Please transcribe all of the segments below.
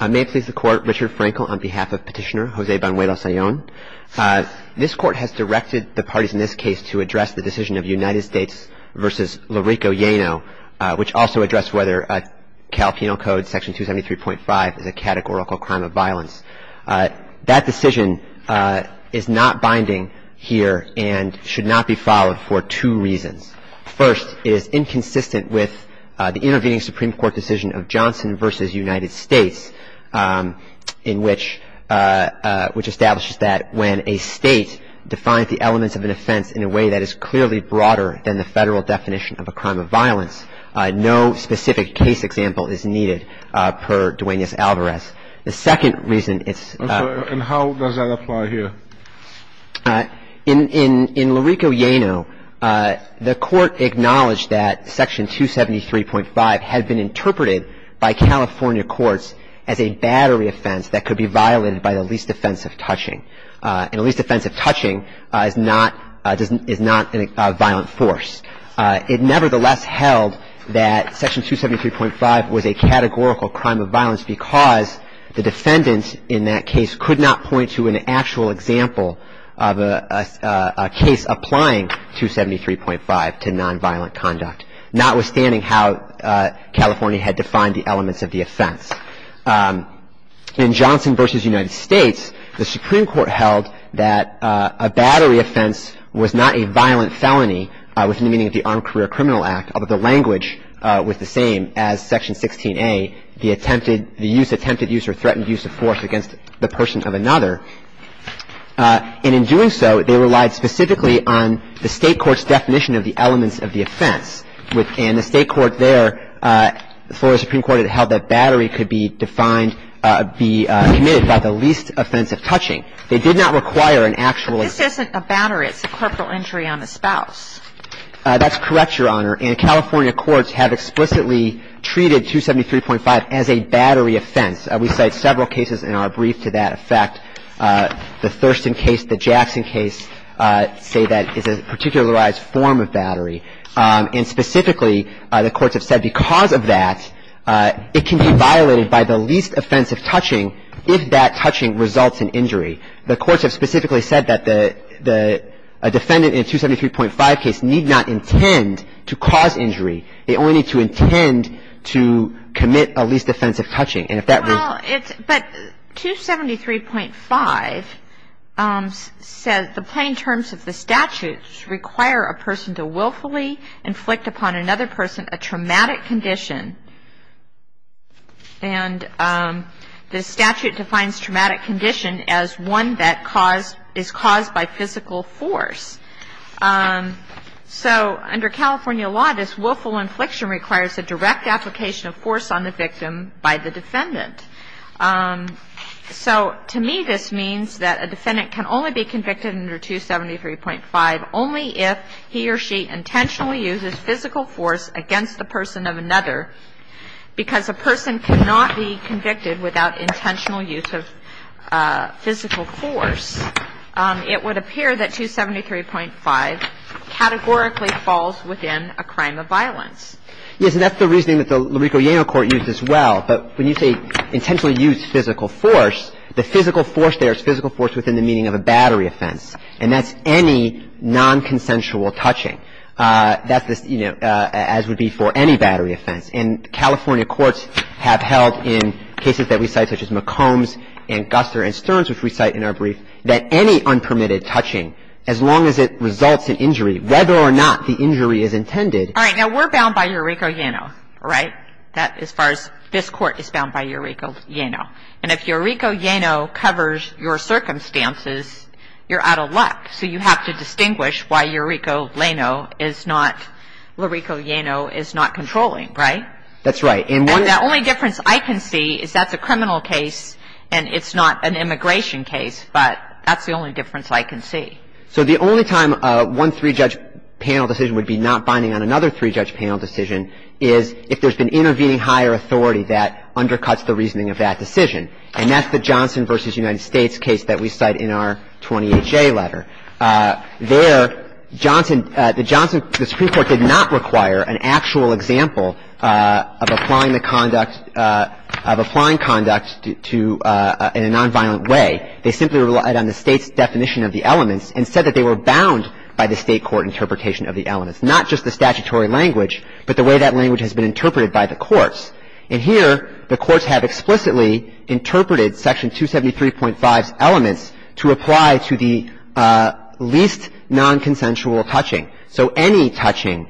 May it please the Court, Richard Frankel on behalf of Petitioner Jose Banuelos-Ayon. This Court has directed the parties in this case to address the decision of United States v. Larrico Llano, which also addressed whether Cal Penal Code Section 273.5 is a categorical crime of violence. That decision is not binding here and should not be followed for two reasons. First, it is inconsistent with the intervening Supreme Court decision of Johnson v. United States, which establishes that when a state defines the elements of an offense in a way that is clearly broader than the federal definition of a crime of violence, no specific case example is needed per Duenas-Alvarez. The second reason is... And how does that apply here? In Larrico Llano, the Court acknowledged that Section 273.5 had been interpreted by California courts as a battery offense that could be violated by the least offensive touching. And a least offensive touching is not a violent force. It nevertheless held that Section 273.5 was a categorical crime of violence because the defendant in that case could not point to an actual example of a case applying 273.5 to nonviolent conduct, notwithstanding how California had defined the elements of the offense. In Johnson v. United States, the Supreme Court held that a battery offense was not a violent felony within the meaning of the Armed Career Criminal Act, but the language was the same as Section 16A, the attempted use or threatened use of force against the person of another. And in doing so, they relied specifically on the State court's definition of the elements of the offense. And the State court there, Florida Supreme Court, had held that battery could be defined be committed by the least offensive touching. They did not require an actual... But this isn't a battery. It's a corporal injury on the spouse. That's correct, Your Honor. And California courts have explicitly treated 273.5 as a battery offense. We cite several cases in our brief to that effect. The Thurston case, the Jackson case say that is a particularized form of battery. And specifically, the courts have said because of that, it can be violated by the least offensive touching if that touching results in injury. The courts have specifically said that a defendant in a 273.5 case need not intend to cause injury. They only need to intend to commit a least offensive touching. And if that were... Well, but 273.5 says the plain terms of the statute require a person to willfully inflict upon another person a traumatic condition. And the statute defines traumatic condition as one that is caused by physical force. So under California law, this willful infliction requires a direct application of force on the victim by the defendant. So to me, this means that a defendant can only be convicted under 273.5 only if he or she intentionally uses physical force against the person of another because a person cannot be convicted without intentional use of physical force. It would appear that 273.5 categorically falls within a crime of violence. Yes, and that's the reasoning that the LaRico-Yano court used as well. But when you say intentionally use physical force, the physical force there is physical force within the meaning of a battery offense. And that's any nonconsensual touching. That's this, you know, as would be for any battery offense. And California courts have held in cases that we cite, such as McCombs and Guster and Stearns, which we cite in our brief, that any unpermitted touching, as long as it results in injury, whether or not the injury is intended... All right. Now, we're bound by your LaRico-Yano, right, as far as this Court is bound by your LaRico-Yano. And if LaRico-Yano covers your circumstances, you're out of luck. So you have to distinguish why LaRico-Yano is not controlling, right? That's right. And the only difference I can see is that's a criminal case and it's not an immigration case, but that's the only difference I can see. So the only time one three-judge panel decision would be not binding on another three-judge panel decision is if there's been intervening higher authority that undercuts the reasoning of that decision. And that's the Johnson v. United States case that we cite in our 20HA letter. There, Johnson — the Johnson — the Supreme Court did not require an actual example of applying the conduct — of applying conduct to — in a nonviolent way. They simply relied on the State's definition of the elements and said that they were bound by the State court interpretation of the elements, not just the statutory language, but the way that language has been interpreted by the courts. And here the courts have explicitly interpreted Section 273.5's elements to apply to the least nonconsensual touching. So any touching would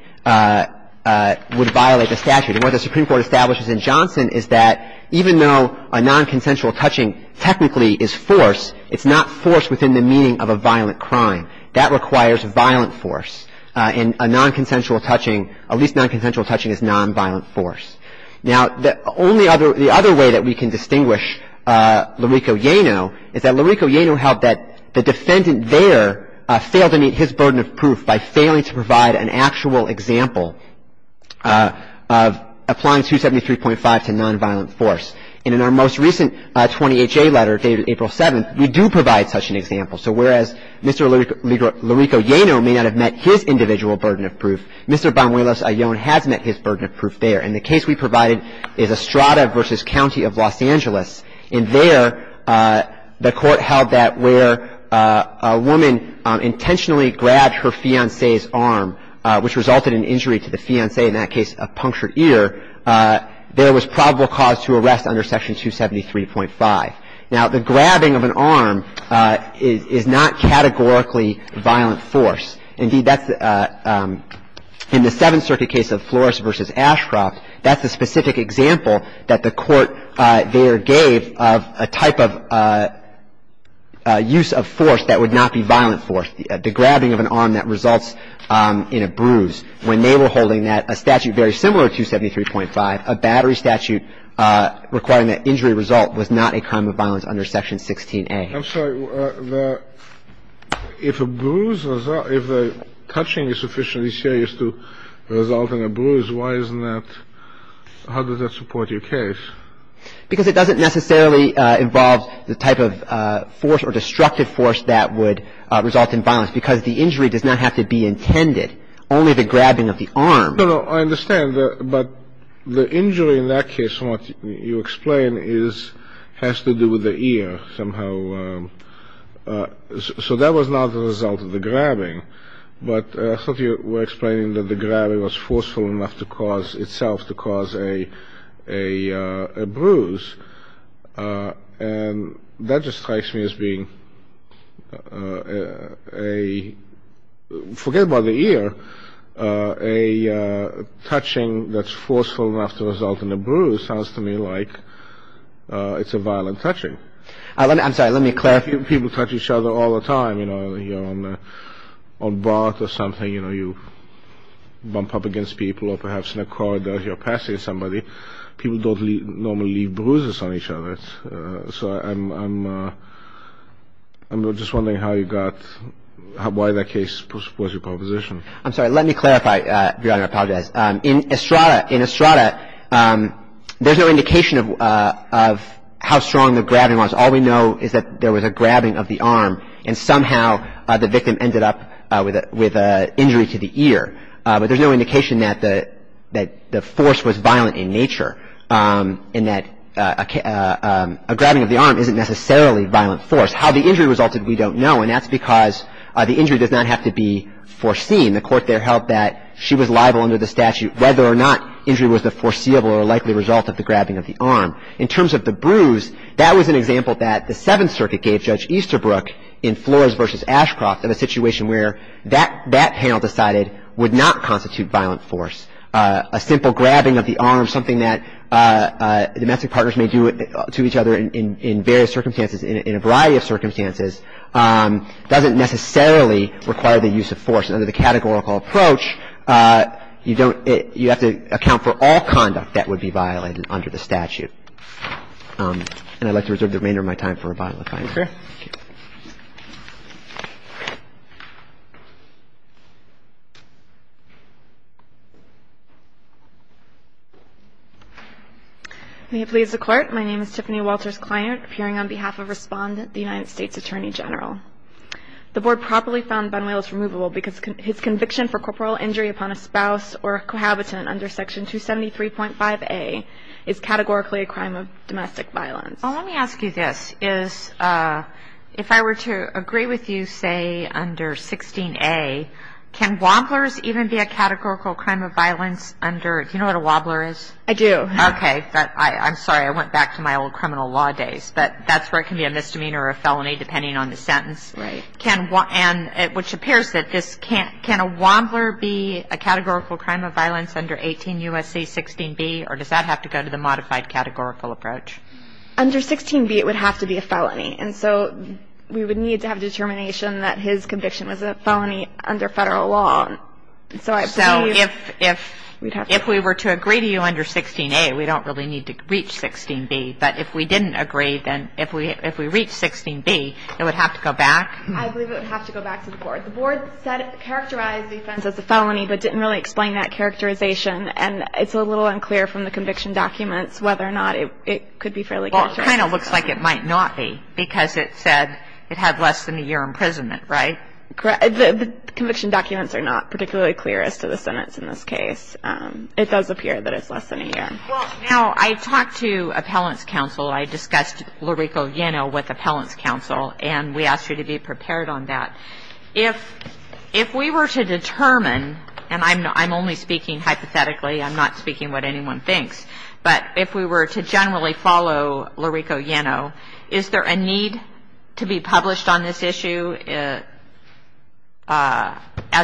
violate the statute. And what the Supreme Court establishes in Johnson is that even though a nonconsensual touching technically is force, it's not force within the meaning of a violent crime. That requires violent force. And a nonconsensual touching — a least nonconsensual touching is nonviolent force. Now, the only other — the other way that we can distinguish Lurico-Yano is that Lurico-Yano held that the defendant there failed to meet his burden of proof by failing to provide an actual example of applying 273.5 to nonviolent force. And in our most recent 20HA letter dated April 7th, we do provide such an example. So whereas Mr. Lurico-Yano may not have met his individual burden of proof, Mr. Banuelos-Ayon has met his burden of proof there. And the case we provided is Estrada v. County of Los Angeles. And there the Court held that where a woman intentionally grabbed her fiancé's arm, which resulted in injury to the fiancé, in that case a punctured ear, there was probable cause to arrest under Section 273.5. Now, the grabbing of an arm is not categorically violent force. Indeed, that's — in the Seventh Circuit case of Flores v. Ashcroft, that's a specific example that the Court there gave of a type of use of force that would not be violent force, the grabbing of an arm that results in a bruise. When they were holding that, a statute very similar to 273.5, a battery statute requiring that injury result was not a crime of violence under Section 16A. I'm sorry. If a bruise — if the touching is sufficiently serious to result in a bruise, why isn't that — how does that support your case? Because it doesn't necessarily involve the type of force or destructive force that would result in violence, because the injury does not have to be intended, only the grabbing of the arm. No, no, no. I understand. But the injury in that case, what you explain, is — has to do with the ear somehow. So that was not the result of the grabbing. But I thought you were explaining that the grabbing was forceful enough to cause — itself to cause a bruise. And that just strikes me as being a — forget about the ear. A touching that's forceful enough to result in a bruise sounds to me like it's a violent touching. I'm sorry. Let me clarify. People touch each other all the time. You know, you're on a bath or something. You know, you bump up against people, or perhaps in a corridor you're passing somebody. People don't normally leave bruises on each other. So I'm just wondering how you got — why that case was your proposition. I'm sorry. Let me clarify. I apologize. In Estrada, there's no indication of how strong the grabbing was. All we know is that there was a grabbing of the arm, and somehow the victim ended up with an injury to the ear. But there's no indication that the force was violent in nature and that a grabbing of the arm isn't necessarily violent force. How the injury resulted, we don't know, and that's because the injury does not have to be foreseen. The court there held that she was liable under the statute whether or not injury was the foreseeable or likely result of the grabbing of the arm. In terms of the bruise, that was an example that the Seventh Circuit gave Judge Easterbrook in Flores v. Ashcroft in a situation where that panel decided would not constitute violent force. A simple grabbing of the arm, something that domestic partners may do to each other in various circumstances, in a variety of circumstances, doesn't necessarily require the use of force. And under the categorical approach, you don't — you have to account for all conduct that would be violent under the statute. And I'd like to reserve the remainder of my time for a bottle of wine. Thank you, sir. May it please the Court, my name is Tiffany Walters-Kleinert, appearing on behalf of Respondent, the United States Attorney General. The Board properly found Bunwell's removable because his conviction for corporal injury upon a spouse or a cohabitant under Section 273.5a is categorically a crime of domestic violence. Well, let me ask you this. Is — if I were to agree with you, say, under 16a, can wobblers even be a categorical crime of violence under — do you know what a wobbler is? I do. Okay. I'm sorry. I went back to my old criminal law days. But that's where it can be a misdemeanor or a felony, depending on the sentence. Right. And which appears that this can't — can a wobbler be a categorical crime of violence under 18 U.S.C. 16b, or does that have to go to the modified categorical approach? Under 16b, it would have to be a felony. And so we would need to have determination that his conviction was a felony under Federal law. So I believe — So if — if we were to agree to you under 16a, we don't really need to reach 16b. But if we didn't agree, then if we reached 16b, it would have to go back? I believe it would have to go back to the Board. The Board said it characterized the offense as a felony, but didn't really explain that characterization. And it's a little unclear from the conviction documents whether or not it could be fairly categorical. Well, it kind of looks like it might not be, because it said it had less than a year imprisonment, right? Correct. The conviction documents are not particularly clear as to the sentence in this case. It does appear that it's less than a year. Well, now, I talked to appellants' counsel. I discussed Lurico Yeno with appellants' counsel, and we asked her to be prepared on that. If we were to determine — and I'm only speaking hypothetically. I'm not speaking what anyone thinks. But if we were to generally follow Lurico Yeno, is there a need to be published on this issue as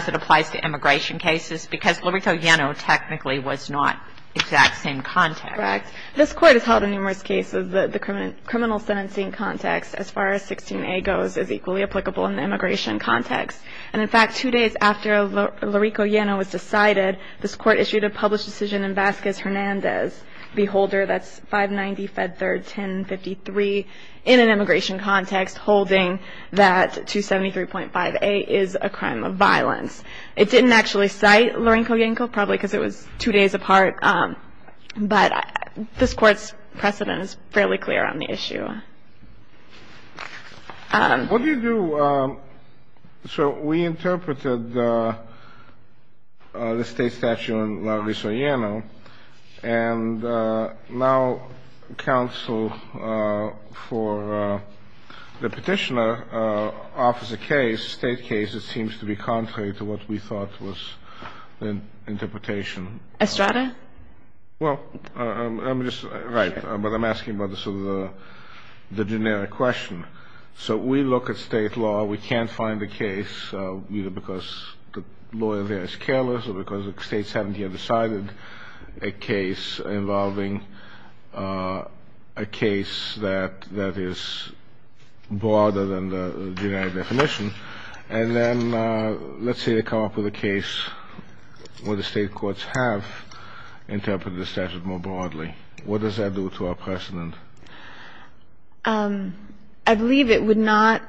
it applies to immigration cases? Because Lurico Yeno technically was not exact same context. Correct. This Court has held in numerous cases that the criminal sentencing context, as far as 16a goes, is equally applicable in the immigration context. And, in fact, two days after Lurico Yeno was decided, this Court issued a published decision in Vasquez Hernandez v. Holder, that's 590 Fed 3rd 1053, in an immigration context holding that 273.5a is a crime of violence. It didn't actually cite Lurico Yenco, probably because it was two days apart. What do you do — so we interpreted the State statute on Lurico Yeno, and now counsel for the Petitioner offers a case, State case, that seems to be contrary to what we thought was the interpretation. Estrada? Well, let me just — right. But I'm asking about sort of the generic question. So we look at State law. We can't find a case either because the lawyer there is careless or because the States haven't yet decided a case involving a case that is broader than the generic definition. And then let's say they come up with a case where the State courts have interpreted the statute more broadly. What does that do to our precedent? I believe it would not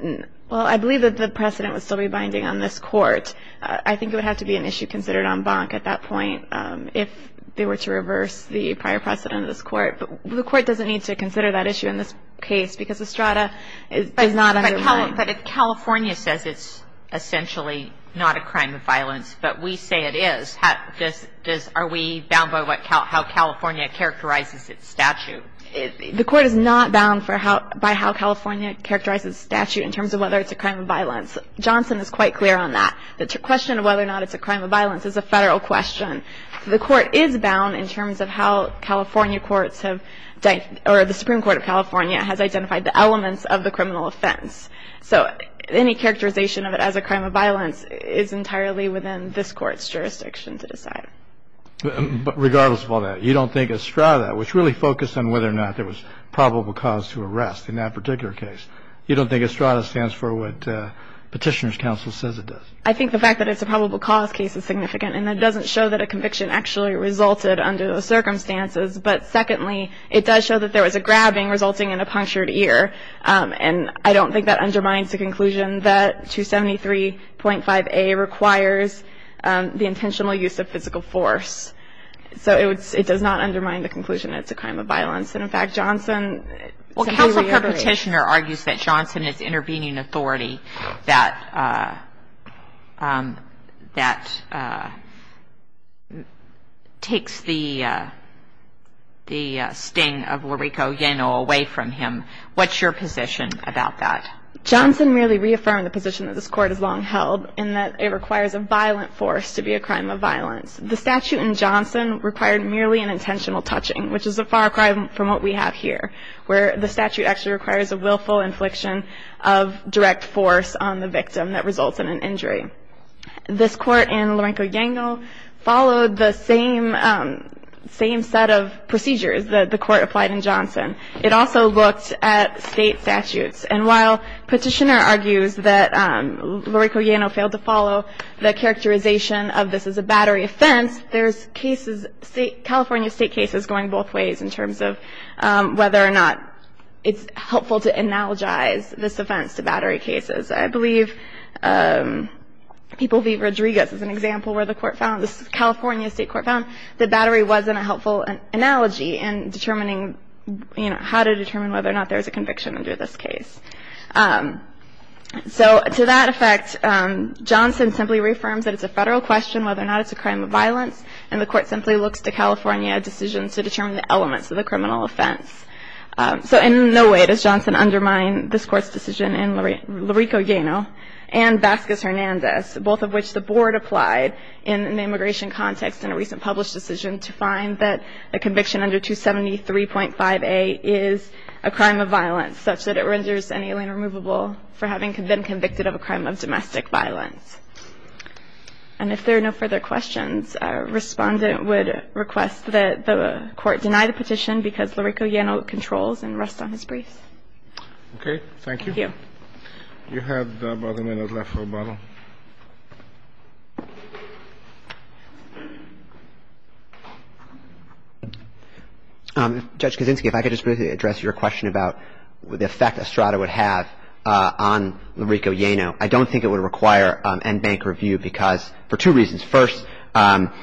— well, I believe that the precedent would still be binding on this Court. I think it would have to be an issue considered on Bonk at that point if they were to reverse the prior precedent of this Court. But the Court doesn't need to consider that issue in this case because Estrada does not undermine it. But if California says it's essentially not a crime of violence, but we say it is, are we bound by how California characterizes its statute? The Court is not bound by how California characterizes its statute in terms of whether it's a crime of violence. Johnson is quite clear on that. The question of whether or not it's a crime of violence is a Federal question. The Court is bound in terms of how California courts have — or the Supreme Court of California has identified the elements of the criminal offense. So any characterization of it as a crime of violence is entirely within this Court's jurisdiction to decide. But regardless of all that, you don't think Estrada, which really focused on whether or not there was probable cause to arrest in that particular case, you don't think Estrada stands for what Petitioner's Counsel says it does? I think the fact that it's a probable cause case is significant. And that doesn't show that a conviction actually resulted under those circumstances. But secondly, it does show that there was a grabbing resulting in a punctured ear. And I don't think that undermines the conclusion that 273.5A requires the intentional use of physical force. So it does not undermine the conclusion it's a crime of violence. And, in fact, Johnson — Well, Counsel for Petitioner argues that Johnson is intervening authority that takes the sting of Lurico Yeno away from him. What's your position about that? Johnson merely reaffirmed the position that this Court has long held, in that it requires a violent force to be a crime of violence. The statute in Johnson required merely an intentional touching, which is a far cry from what we have here, where the statute actually requires a willful infliction of direct force on the victim that results in an injury. This Court in Lurico Yeno followed the same set of procedures that the Court applied in Johnson. It also looked at State statutes. And while Petitioner argues that Lurico Yeno failed to follow the characterization of this as a battery offense, there's cases — California State cases going both ways in terms of whether or not it's helpful to analogize this offense to battery cases. I believe People v. Rodriguez is an example where the Court found — the California State Court found that battery wasn't a helpful analogy in determining, you know, how to determine whether or not there's a conviction under this case. So to that effect, Johnson simply reaffirms that it's a Federal question whether or not it's a crime of violence, and the Court simply looks to California decisions to determine the elements of the criminal offense. So in no way does Johnson undermine this Court's decision in Lurico Yeno and Vasquez-Hernandez, both of which the Board applied in an immigration context in a recent published decision to find that a conviction under 273.5a is a crime of violence, such that it renders an alien removable for having been convicted of a crime of domestic violence. And if there are no further questions, Respondent would request that the Court deny the petition because Lurico Yeno controls and rests on his briefs. Okay. Thank you. Thank you. You have about a minute left, Roboto. Judge Kaczynski, if I could just briefly address your question about the effect Estrada would have on Lurico Yeno. I don't think it would require end bank review because — for two reasons. First, Lurico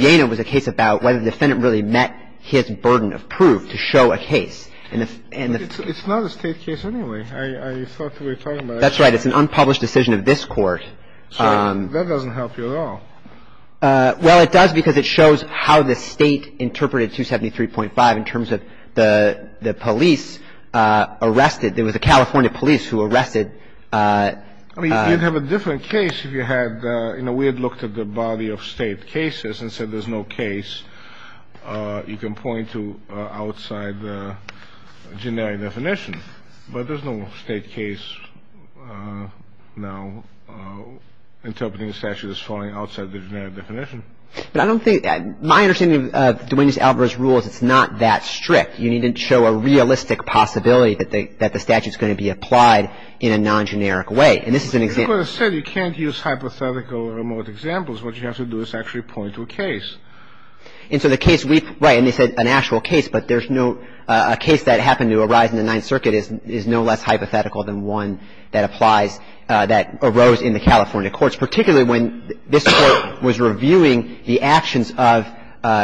Yeno was a case about whether the defendant really met his burden of proof to show a case. And the — It's not a State case anyway. I thought we were talking about — That's right. It's an unpublished decision of this Court. That doesn't help you at all. Well, it does because it shows how the State interpreted 273.5 in terms of the police arrested. There was a California police who arrested — I mean, you'd have a different case if you had — you know, we had looked at the body of State cases and said there's no case. You can point to outside the generic definition, but there's no State case now interpreting the statute as falling outside the generic definition. But I don't think — my understanding of Duane D. Alvarez's rule is it's not that strict. You need to show a realistic possibility that the statute is going to be applied in a non-generic way. And this is an example — Like I said, you can't use hypothetical or remote examples. What you have to do is actually point to a case. And so the case we — right. And they said an actual case, but there's no — a case that happened to arise in the Ninth Circuit is no less hypothetical than one that applies — that arose in the California courts, particularly when this Court was reviewing the actions of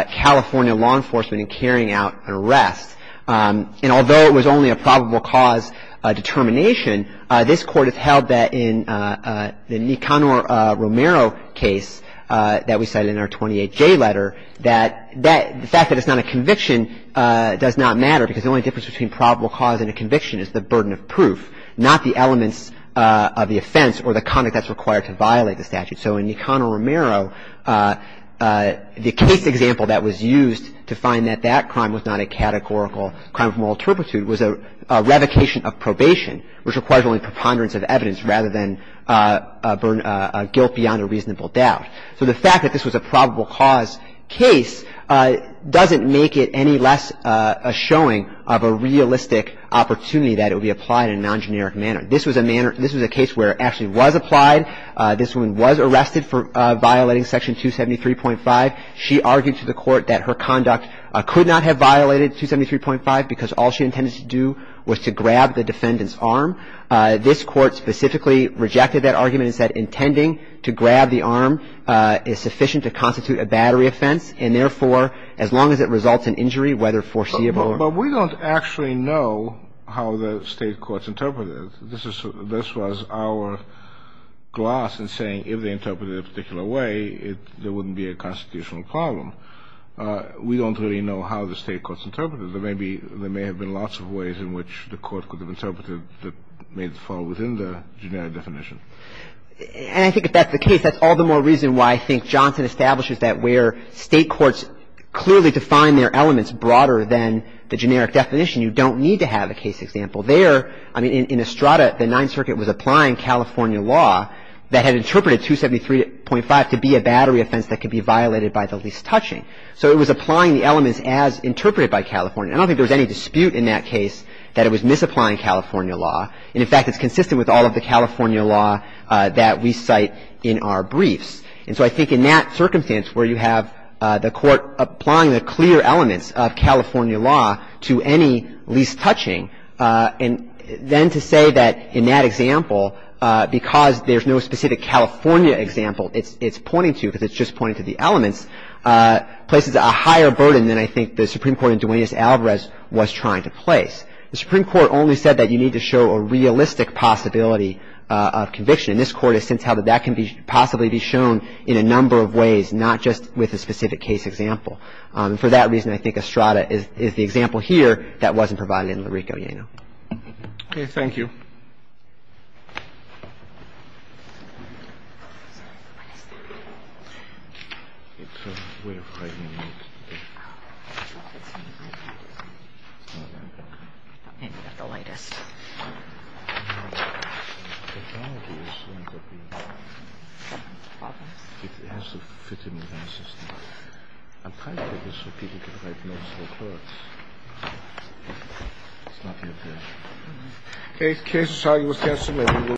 California law enforcement in carrying out an arrest. And although it was only a probable cause determination, this Court has held that in the Nicanor Romero case that we cited in our 28J letter, that the fact that it's not a conviction does not matter because the only difference between probable cause and a conviction is the burden of proof, not the elements of the offense or the conduct that's required to violate the statute. So in Nicanor Romero, the case example that was used to find that that crime was not a categorical crime of moral turpitude was a revocation of probation, which requires only preponderance of evidence rather than a guilt beyond a reasonable doubt. So the fact that this was a probable cause case doesn't make it any less a showing of a realistic opportunity that it would be applied in a non-generic manner. This was a case where it actually was applied. This woman was arrested for violating Section 273.5. She argued to the Court that her conduct could not have violated 273.5 because all she intended to do was to grab the defendant's arm. This Court specifically rejected that argument and said intending to grab the arm is sufficient to constitute a battery offense and, therefore, as long as it results in injury, whether foreseeable or not. But we don't actually know how the State courts interpreted it. This was our gloss in saying if they interpreted it a particular way, there wouldn't be a constitutional problem. We don't really know how the State courts interpreted it. There may be – there may have been lots of ways in which the Court could have interpreted that made it fall within the generic definition. And I think if that's the case, that's all the more reason why I think Johnson establishes that where State courts clearly define their elements broader than the generic definition, you don't need to have a case example there. I mean, in Estrada, the Ninth Circuit was applying California law that had interpreted 273.5 to be a battery offense that could be violated by the least touching. So it was applying the elements as interpreted by California. I don't think there was any dispute in that case that it was misapplying California law. And, in fact, it's consistent with all of the California law that we cite in our briefs. And so I think in that circumstance where you have the Court applying the clear elements of California law to any least touching, and then to say that in that example, because there's no specific California example it's pointing to because it's just pointing to the elements, places a higher burden than I think the Supreme Court in Duenas-Alvarez was trying to place. The Supreme Court only said that you need to show a realistic possibility of conviction. And this Court has since held that that can possibly be shown in a number of ways, not just with a specific case example. And for that reason, I think Estrada is the example here that wasn't provided in Larrico-Llano. Thank you. The case is signed. We'll cancel it.